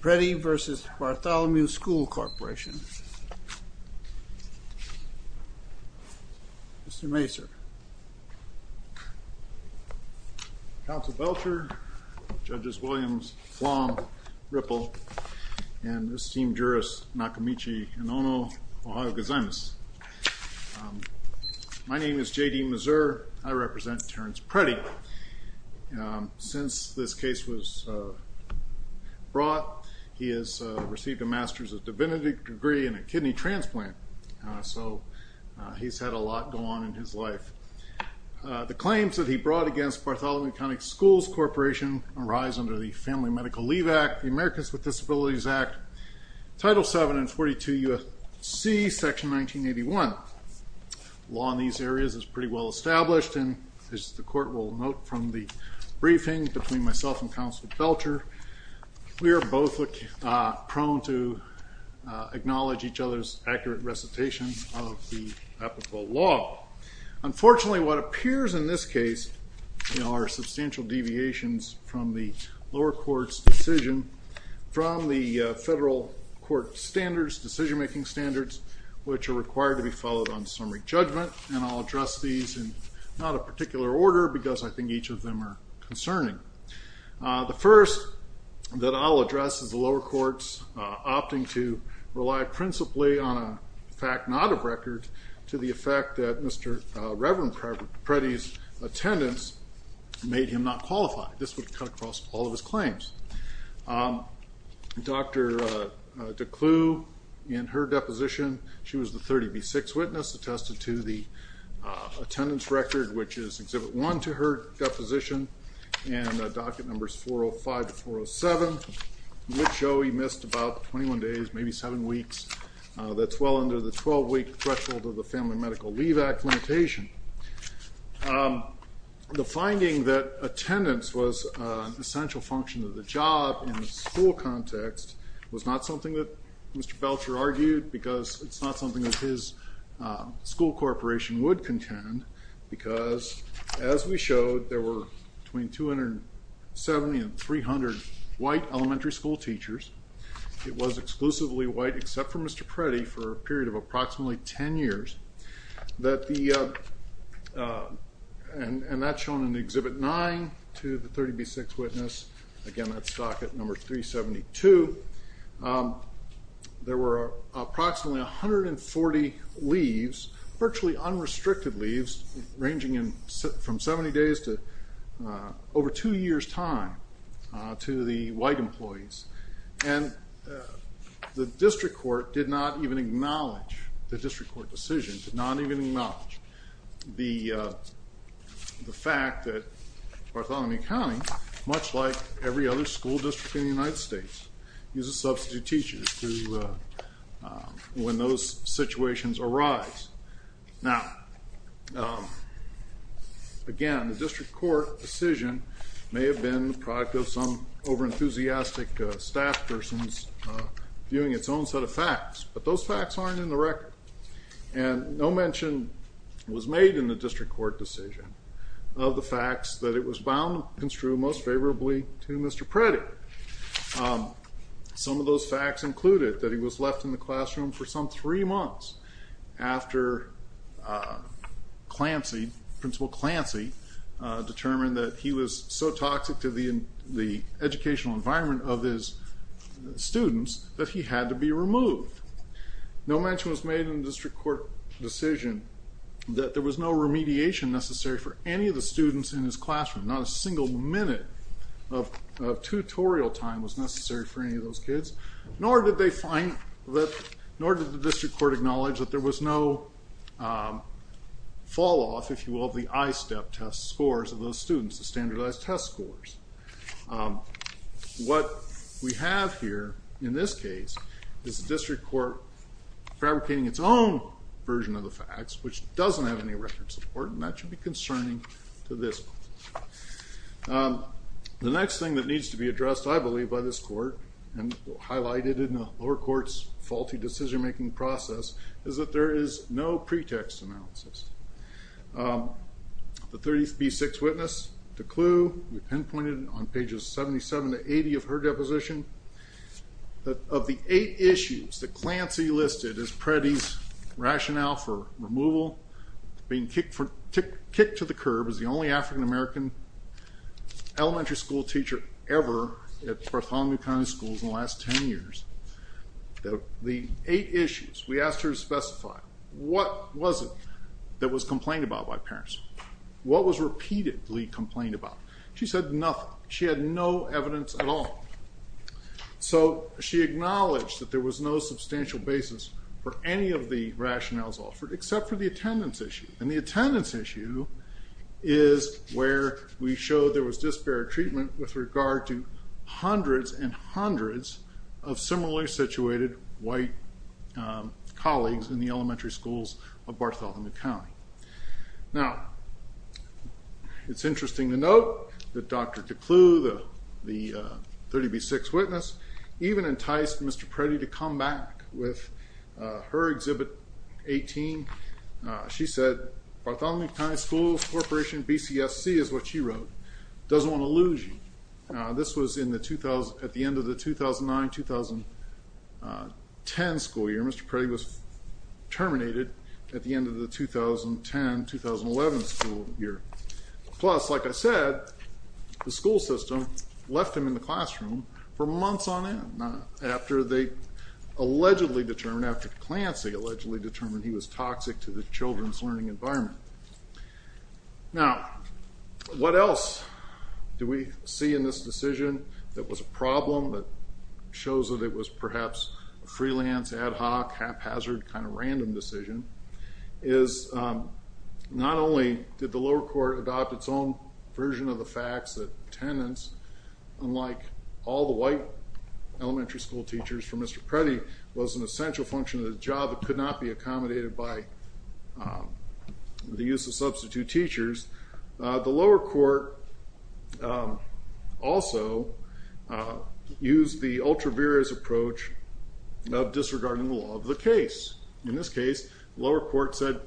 Preddie v. Bartholomew School Corporation. Mr. Masur, Council Belcher, Judges Williams, Flom, Ripple, and esteemed jurist Nakamichi Inono, Ohio Gazimus. My name is J.D. Mazur. I represent Terrence Preddie. Since this case was brought, he has received a master's of divinity degree and a kidney transplant. So he's had a lot go on in his life. The claims that he brought against Bartholomew County Schools Corporation arise under the Family Medical Leave Act, the Americans with Disabilities Act, Title 7 and 42 U.S.C. section 1981. Law in these areas is pretty well established and as the court will note from the culture, we are both prone to acknowledge each other's accurate recitations of the ethical law. Unfortunately what appears in this case are substantial deviations from the lower court's decision from the federal court standards, decision-making standards, which are required to be followed on summary judgment and I'll address these in not a particular order because I think each of them are important. The first that I'll address is the lower courts opting to rely principally on a fact-not-of record to the effect that Mr. Reverend Preddie's attendance made him not qualify. This would cut across all of his claims. Dr. DeClew, in her deposition, she was the 30B6 witness attested to the attendance record, which is Exhibit 1 to her deposition and docket numbers 405 to 407, which show he missed about 21 days, maybe seven weeks. That's well under the 12-week threshold of the Family Medical Leave Act limitation. The finding that attendance was an essential function of the job in the school context was not something that Mr. Belcher argued because it's not something that his school corporation would contend because, as we showed, there were between 270 and 300 white elementary school teachers. It was exclusively white except for Mr. Preddie for a period of approximately 10 years and that's shown in Exhibit 9 to the 30B6 witness. Again, that's docket number 372. There were approximately 140 leaves, virtually unrestricted leaves, ranging in from 70 days to over two years time to the white employees and the district court did not even acknowledge the district court decision, did not even acknowledge the fact that Bartholomew County, much like every other school district in the United States, uses situations arise. Now, again, the district court decision may have been the product of some over-enthusiastic staff persons viewing its own set of facts but those facts aren't in the record and no mention was made in the district court decision of the facts that it was bound and true most favorably to Mr. Preddie. Some of those facts included that he was left in the months after Clancy, Principal Clancy, determined that he was so toxic to the educational environment of his students that he had to be removed. No mention was made in the district court decision that there was no remediation necessary for any of the students in his classroom. Not a single minute of tutorial time was necessary for any of those kids nor did they find that, nor did the district court acknowledge that there was no fall-off, if you will, the ISTEP test scores of those students, the standardized test scores. What we have here in this case is the district court fabricating its own version of the facts which doesn't have any record support and that should be concerning to this. The next thing that needs to be addressed, I believe, by this court and highlighted in the lower court's faulty decision-making process is that there is no pretext analysis. The 30th B6 witness, DeClew, we pinpointed on pages 77 to 80 of her deposition that of the eight issues that Clancy listed as Preddie's rationale for removal, being kicked to the curb as the only African-American elementary school teacher ever at Bartholomew County schools in the last 10 years. The eight issues, we asked her to specify, what was it that was complained about by parents? What was repeatedly complained about? She said nothing. She had no evidence at all. So she acknowledged that there was no substantial basis for any of the rationales offered except for the attendance issue and the attendance issue is where we showed there was disparate treatment with regard to hundreds and hundreds of similarly situated white colleagues in the elementary schools of Bartholomew County. Now it's interesting to note that Dr. DeClew, the 30 B6 witness, even enticed Mr. Preddie to come back with her Exhibit 18. She said Bartholomew doesn't want to lose you. This was at the end of the 2009-2010 school year. Mr. Preddie was terminated at the end of the 2010-2011 school year. Plus, like I said, the school system left him in the classroom for months on end after they allegedly determined, after Clancy allegedly determined he was toxic to the Do we see in this decision that was a problem that shows that it was perhaps freelance, ad hoc, haphazard kind of random decision is not only did the lower court adopt its own version of the facts that attendance, unlike all the white elementary school teachers for Mr. Preddie, was an essential function of the job that could not be accommodated by the use of substitute teachers. The lower court also used the ultra-various approach of disregarding the law of the case. In this case, the lower court said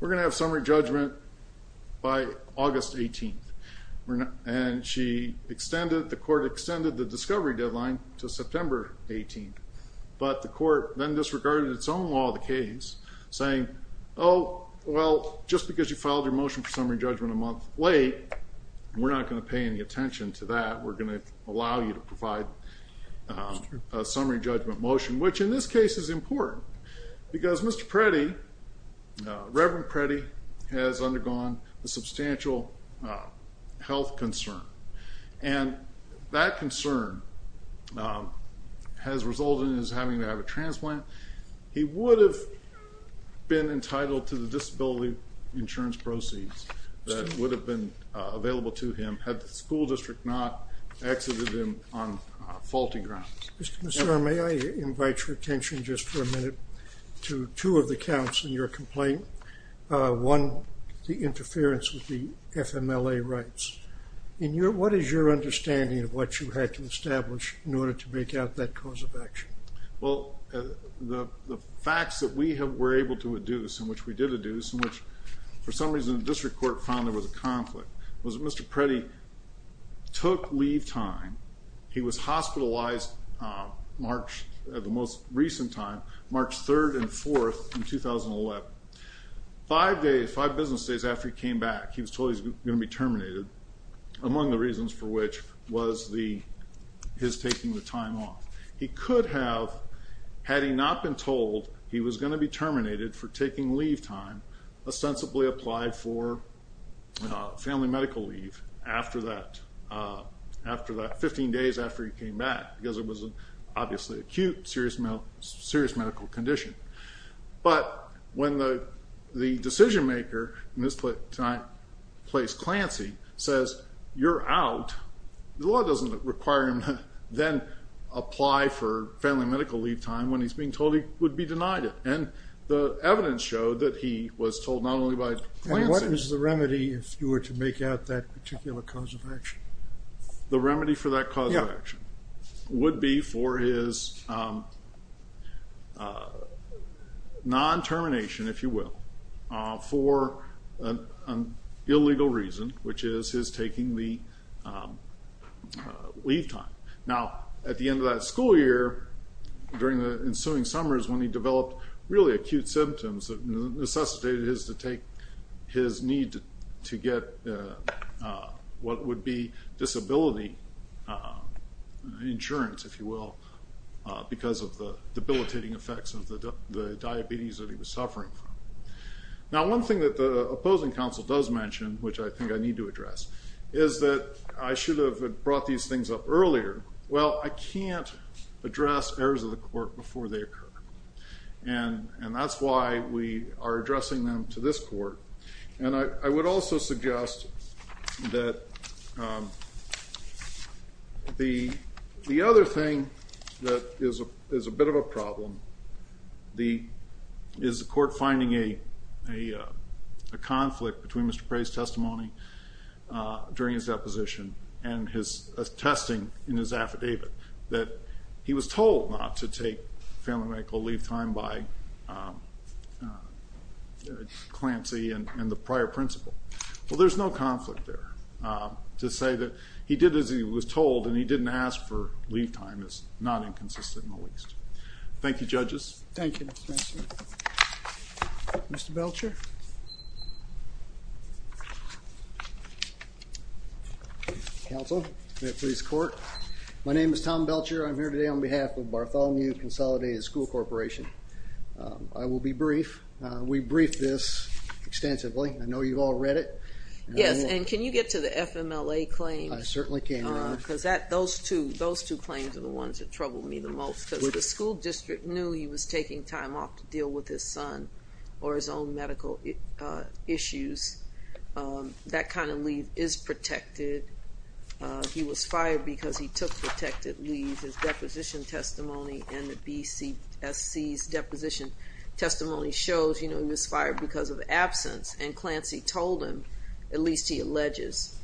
we're gonna have summary judgment by August 18th and she extended, the court extended the discovery deadline to September 18th, but the court then disregarded its own law of the case saying oh well just because you filed your motion for summary judgment a month late, we're not going to pay any attention to that. We're going to allow you to provide a summary judgment motion, which in this case is important because Mr. Preddie, Reverend Preddie, has undergone a substantial health concern and that concern has resulted in his having to have a transplant. He would have been entitled to the disability insurance proceeds that would have been available to him had the school district not exited him on faulty grounds. Mr. Commissioner, may I invite your attention just for a minute to two of the counts in your complaint. One, the interference with the FMLA rights. What is your understanding of what you had to establish in order to make out that cause of action? Well, the facts that we were able to adduce, in which we did adduce, in which for some reason the district court found there was a conflict, was Mr. Preddie took leave time. He was hospitalized March, at the most recent time, March 3rd and 4th in 2011. Five days, five business days after he came back, he was told he was going to be terminated, among the reasons for which was the, his taking the time off. He could have, had he not been told he was going to be terminated for taking leave time, ostensibly applied for family medical leave after that, after that, 15 days after he came back because it was obviously acute, serious medical condition. But when the law doesn't require him to then apply for family medical leave time when he's being told he would be denied it. And the evidence showed that he was told not only by... And what was the remedy if you were to make out that particular cause of action? The remedy for that cause of action would be for his non-termination, if you will, for an illegal reason, which is his taking the leave time. Now at the end of that school year, during the ensuing summers when he developed really acute symptoms that necessitated his to take his need to get what would be disability insurance, if you will, because of the debilitating effects of the diabetes that he was suffering from. Now one thing that the opposing counsel does mention, which I think I need to address, is that I should have brought these things up earlier. Well, I can't address errors of the court before they occur. And that's why we are addressing them to this court. And I would also suggest that the other thing that is a bit of a problem is the court finding a conflict between Mr. Prey's testimony during his deposition and his attesting in his affidavit that he was told not to take family medical leave time by Clancy and the prior principal. Well, there's no conflict there. To say that he did as he was told and he didn't ask for leave time is not inconsistent in the least. Thank you judges. Thank you. Mr. Belcher. Counsel. May it please the court. My name is Tom Belcher. I'm here today on behalf of the school district. I will be brief. We briefed this extensively. I know you've all read it. Yes, and can you get to the FMLA claim? I certainly can. Because those two those two claims are the ones that trouble me the most. The school district knew he was taking time off to deal with his son or his own medical issues. That kind of leave is protected. He was fired because he took protected leave. His deposition testimony shows, you know, he was fired because of absence. And Clancy told him, at least he alleges,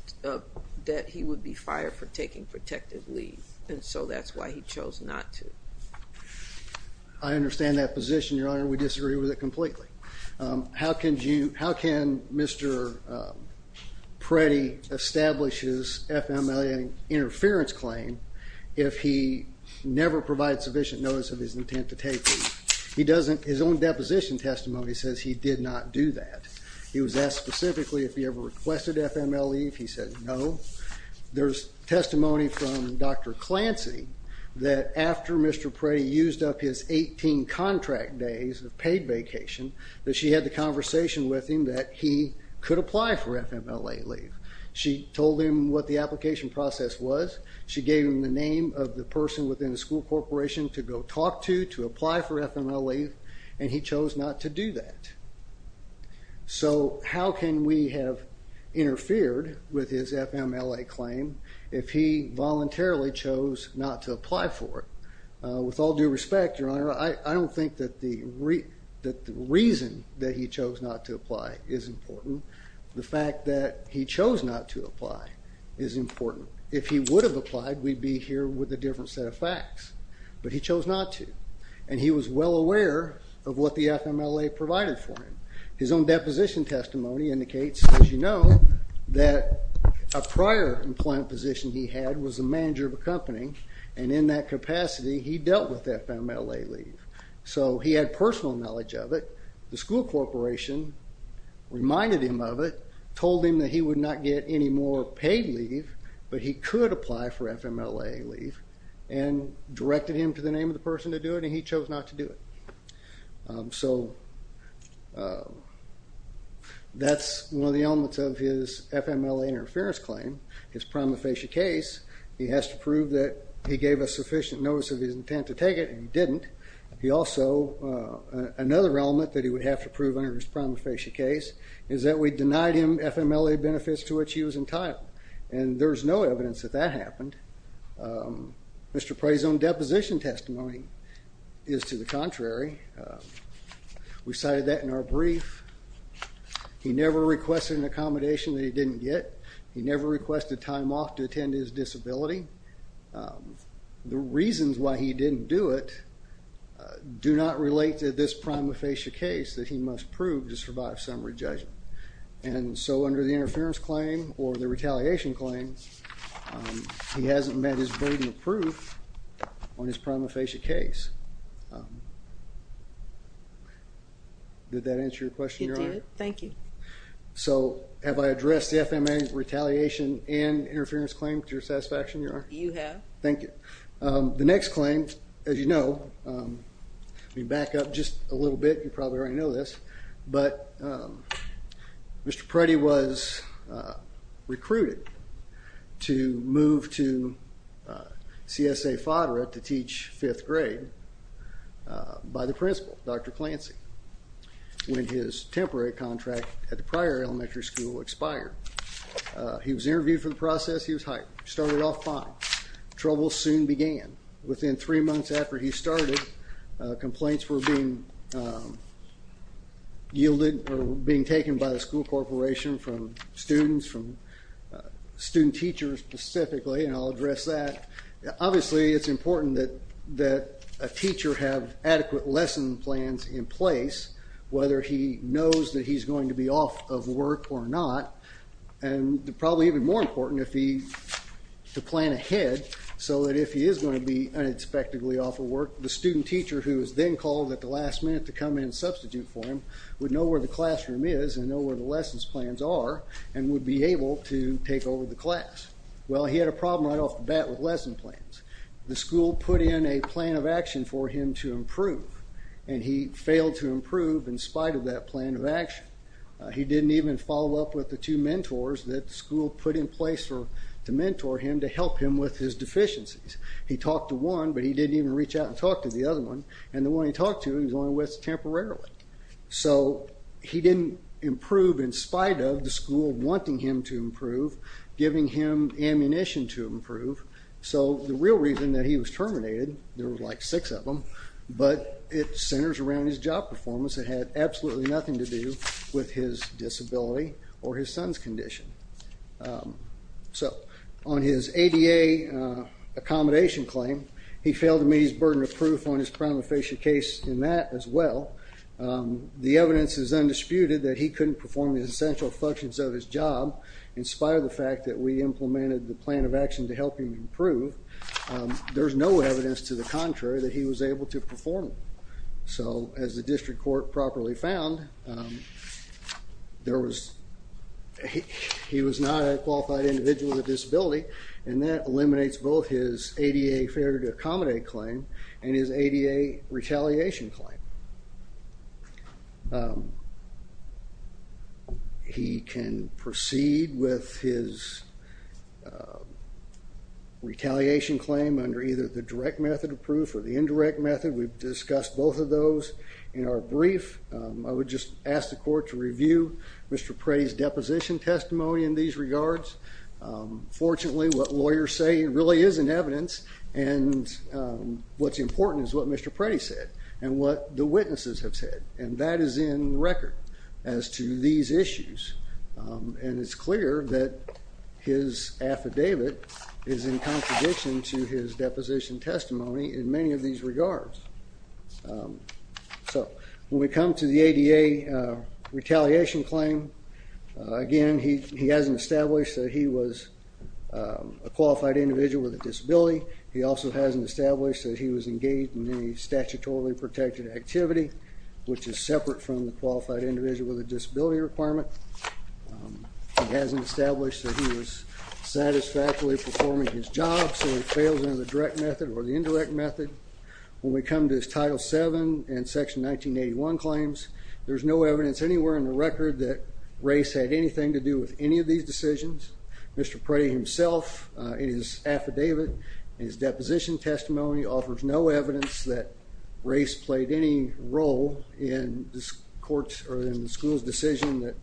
that he would be fired for taking protected leave. And so that's why he chose not to. I understand that position, Your Honor. We disagree with it completely. How can you, how can Mr. Preddy establish his FMLA interference claim if he never provides sufficient notice of his intent to take leave? He doesn't, his own deposition testimony says he did not do that. He was asked specifically if he ever requested FMLA leave. He said no. There's testimony from Dr. Clancy that after Mr. Preddy used up his 18 contract days of paid vacation, that she had the conversation with him that he could apply for FMLA leave. She told him what the application process was. She gave him the name of the person to apply for FMLA leave, and he chose not to do that. So how can we have interfered with his FMLA claim if he voluntarily chose not to apply for it? With all due respect, Your Honor, I don't think that the reason that he chose not to apply is important. The fact that he chose not to apply is important. If he would have applied, we'd be here with a different set of facts. But he was well aware of what the FMLA provided for him. His own deposition testimony indicates, as you know, that a prior employment position he had was a manager of a company, and in that capacity he dealt with FMLA leave. So he had personal knowledge of it. The school corporation reminded him of it, told him that he would not get any more paid leave, but he could apply for FMLA leave, and directed him to the name of the person to do it, and he chose not to do it. So that's one of the elements of his FMLA interference claim, his prima facie case. He has to prove that he gave a sufficient notice of his intent to take it, and he didn't. He also, another element that he would have to prove under his prima facie case, is that we denied him FMLA benefits to which he was entitled. And there's no evidence that that happened. Mr. Prey's own deposition testimony is to the contrary. We cited that in our brief. He never requested an accommodation that he didn't get. He never requested time off to attend his disability. The reasons why he didn't do it do not relate to this prima facie case that he must prove to survive summary judgment. And so under the FMLA retaliation claim, he hasn't met his burden of proof on his prima facie case. Did that answer your question, Your Honor? It did. Thank you. So have I addressed the FMLA retaliation and interference claim to your satisfaction, Your Honor? You have. Thank you. The next claim, as you know, let me back up just a little bit, to move to CSA Fodera to teach fifth grade by the principal, Dr. Clancy, when his temporary contract at the prior elementary school expired. He was interviewed for the process, he was hired, started off fine. Trouble soon began. Within three months after he started, complaints were being yielded or being taken by the school corporation from students, from student teachers specifically, and I'll address that. Obviously, it's important that a teacher have adequate lesson plans in place, whether he knows that he's going to be off of work or not. And probably even more important, to plan ahead so that if he is going to be unexpectedly off of work, the student teacher who is then called at the last minute to come in and substitute for him would know where the classroom is and know where the lessons plans are and would be able to take over the class. Well, he had a problem right off the bat with lesson plans. The school put in a plan of action for him to improve, and he failed to improve in spite of that plan of action. He didn't even follow up with the two mentors that school put in place to mentor him to help him with his deficiencies. He talked to one, but he didn't even reach out and talk to the other one, and the one he talked to, he was only with temporarily. So he didn't improve in spite of the school wanting him to improve, giving him ammunition to improve. So the real reason that he was terminated, there was like six of them, but it centers around his job performance. It had absolutely nothing to do with his disability or his son's condition. So on his ADA accommodation claim, he failed to meet his burden of proof on his prima facie case in that as well. The evidence is undisputed that he couldn't perform the essential functions of his job, inspired the fact that we implemented the plan of action to help him improve. There's no evidence to the contrary that he was able to perform. So as the district court properly found, he was not a qualified individual with a disability, and that eliminates both his ADA failure to accommodate claim and his ADA retaliation claim. He can proceed with his retaliation claim under either the direct method of proof or the indirect method. We've discussed both of those in our brief. I would just ask the court to be clear. Fortunately, what lawyers say really isn't evidence, and what's important is what Mr. Pretty said and what the witnesses have said, and that is in record as to these issues. And it's clear that his affidavit is in contradiction to his deposition testimony in many of these regards. So when we come to the ADA retaliation claim, again, he hasn't established that he was a qualified individual with a disability. He also hasn't established that he was engaged in any statutorily protected activity, which is separate from the qualified individual with a disability requirement. He hasn't established that he was satisfactorily performing his job, so he fails under the direct method or the indirect method. When we come to his Title VII and Section 1981 claims, there's no evidence anywhere in the record that race had anything to do with any of these decisions. Mr. Pretty himself, in his affidavit, in his deposition testimony, offers no evidence that race played any role in the school's decision that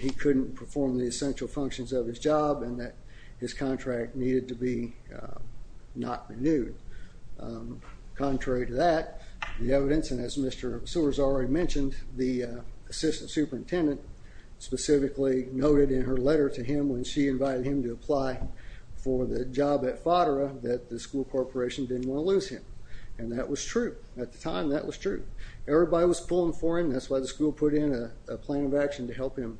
he couldn't perform the essential functions of his job and that his contract needed to be not renewed. Contrary to that, the evidence, and as Mr. Sewers already mentioned, the assistant noted in her letter to him when she invited him to apply for the job at FADRA that the school corporation didn't want to lose him, and that was true. At the time, that was true. Everybody was pulling for him. That's why the school put in a plan of action to help him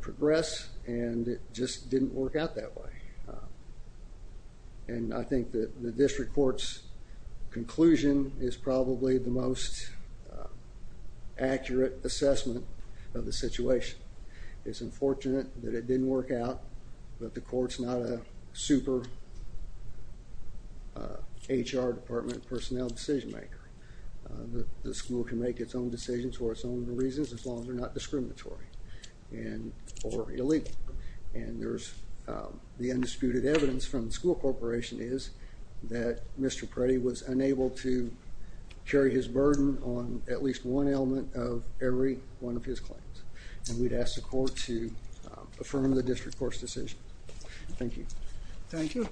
progress, and it just didn't work out that way. And I think that the district court's conclusion is probably the most unfortunate, that it didn't work out, that the court's not a super HR department personnel decision maker. The school can make its own decisions for its own reasons as long as they're not discriminatory and or illegal. And there's the undisputed evidence from the school corporation is that Mr. Pretty was unable to carry his burden on at least one element of every one of his claims, and we'd ask the court to affirm the district court's decision. Thank you. Thank you.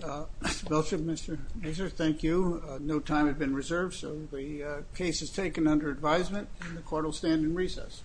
Mr. Belcher, Mr. Mazur, thank you. No time has been reserved, so the case is taken under advisement and the court will stand in recess.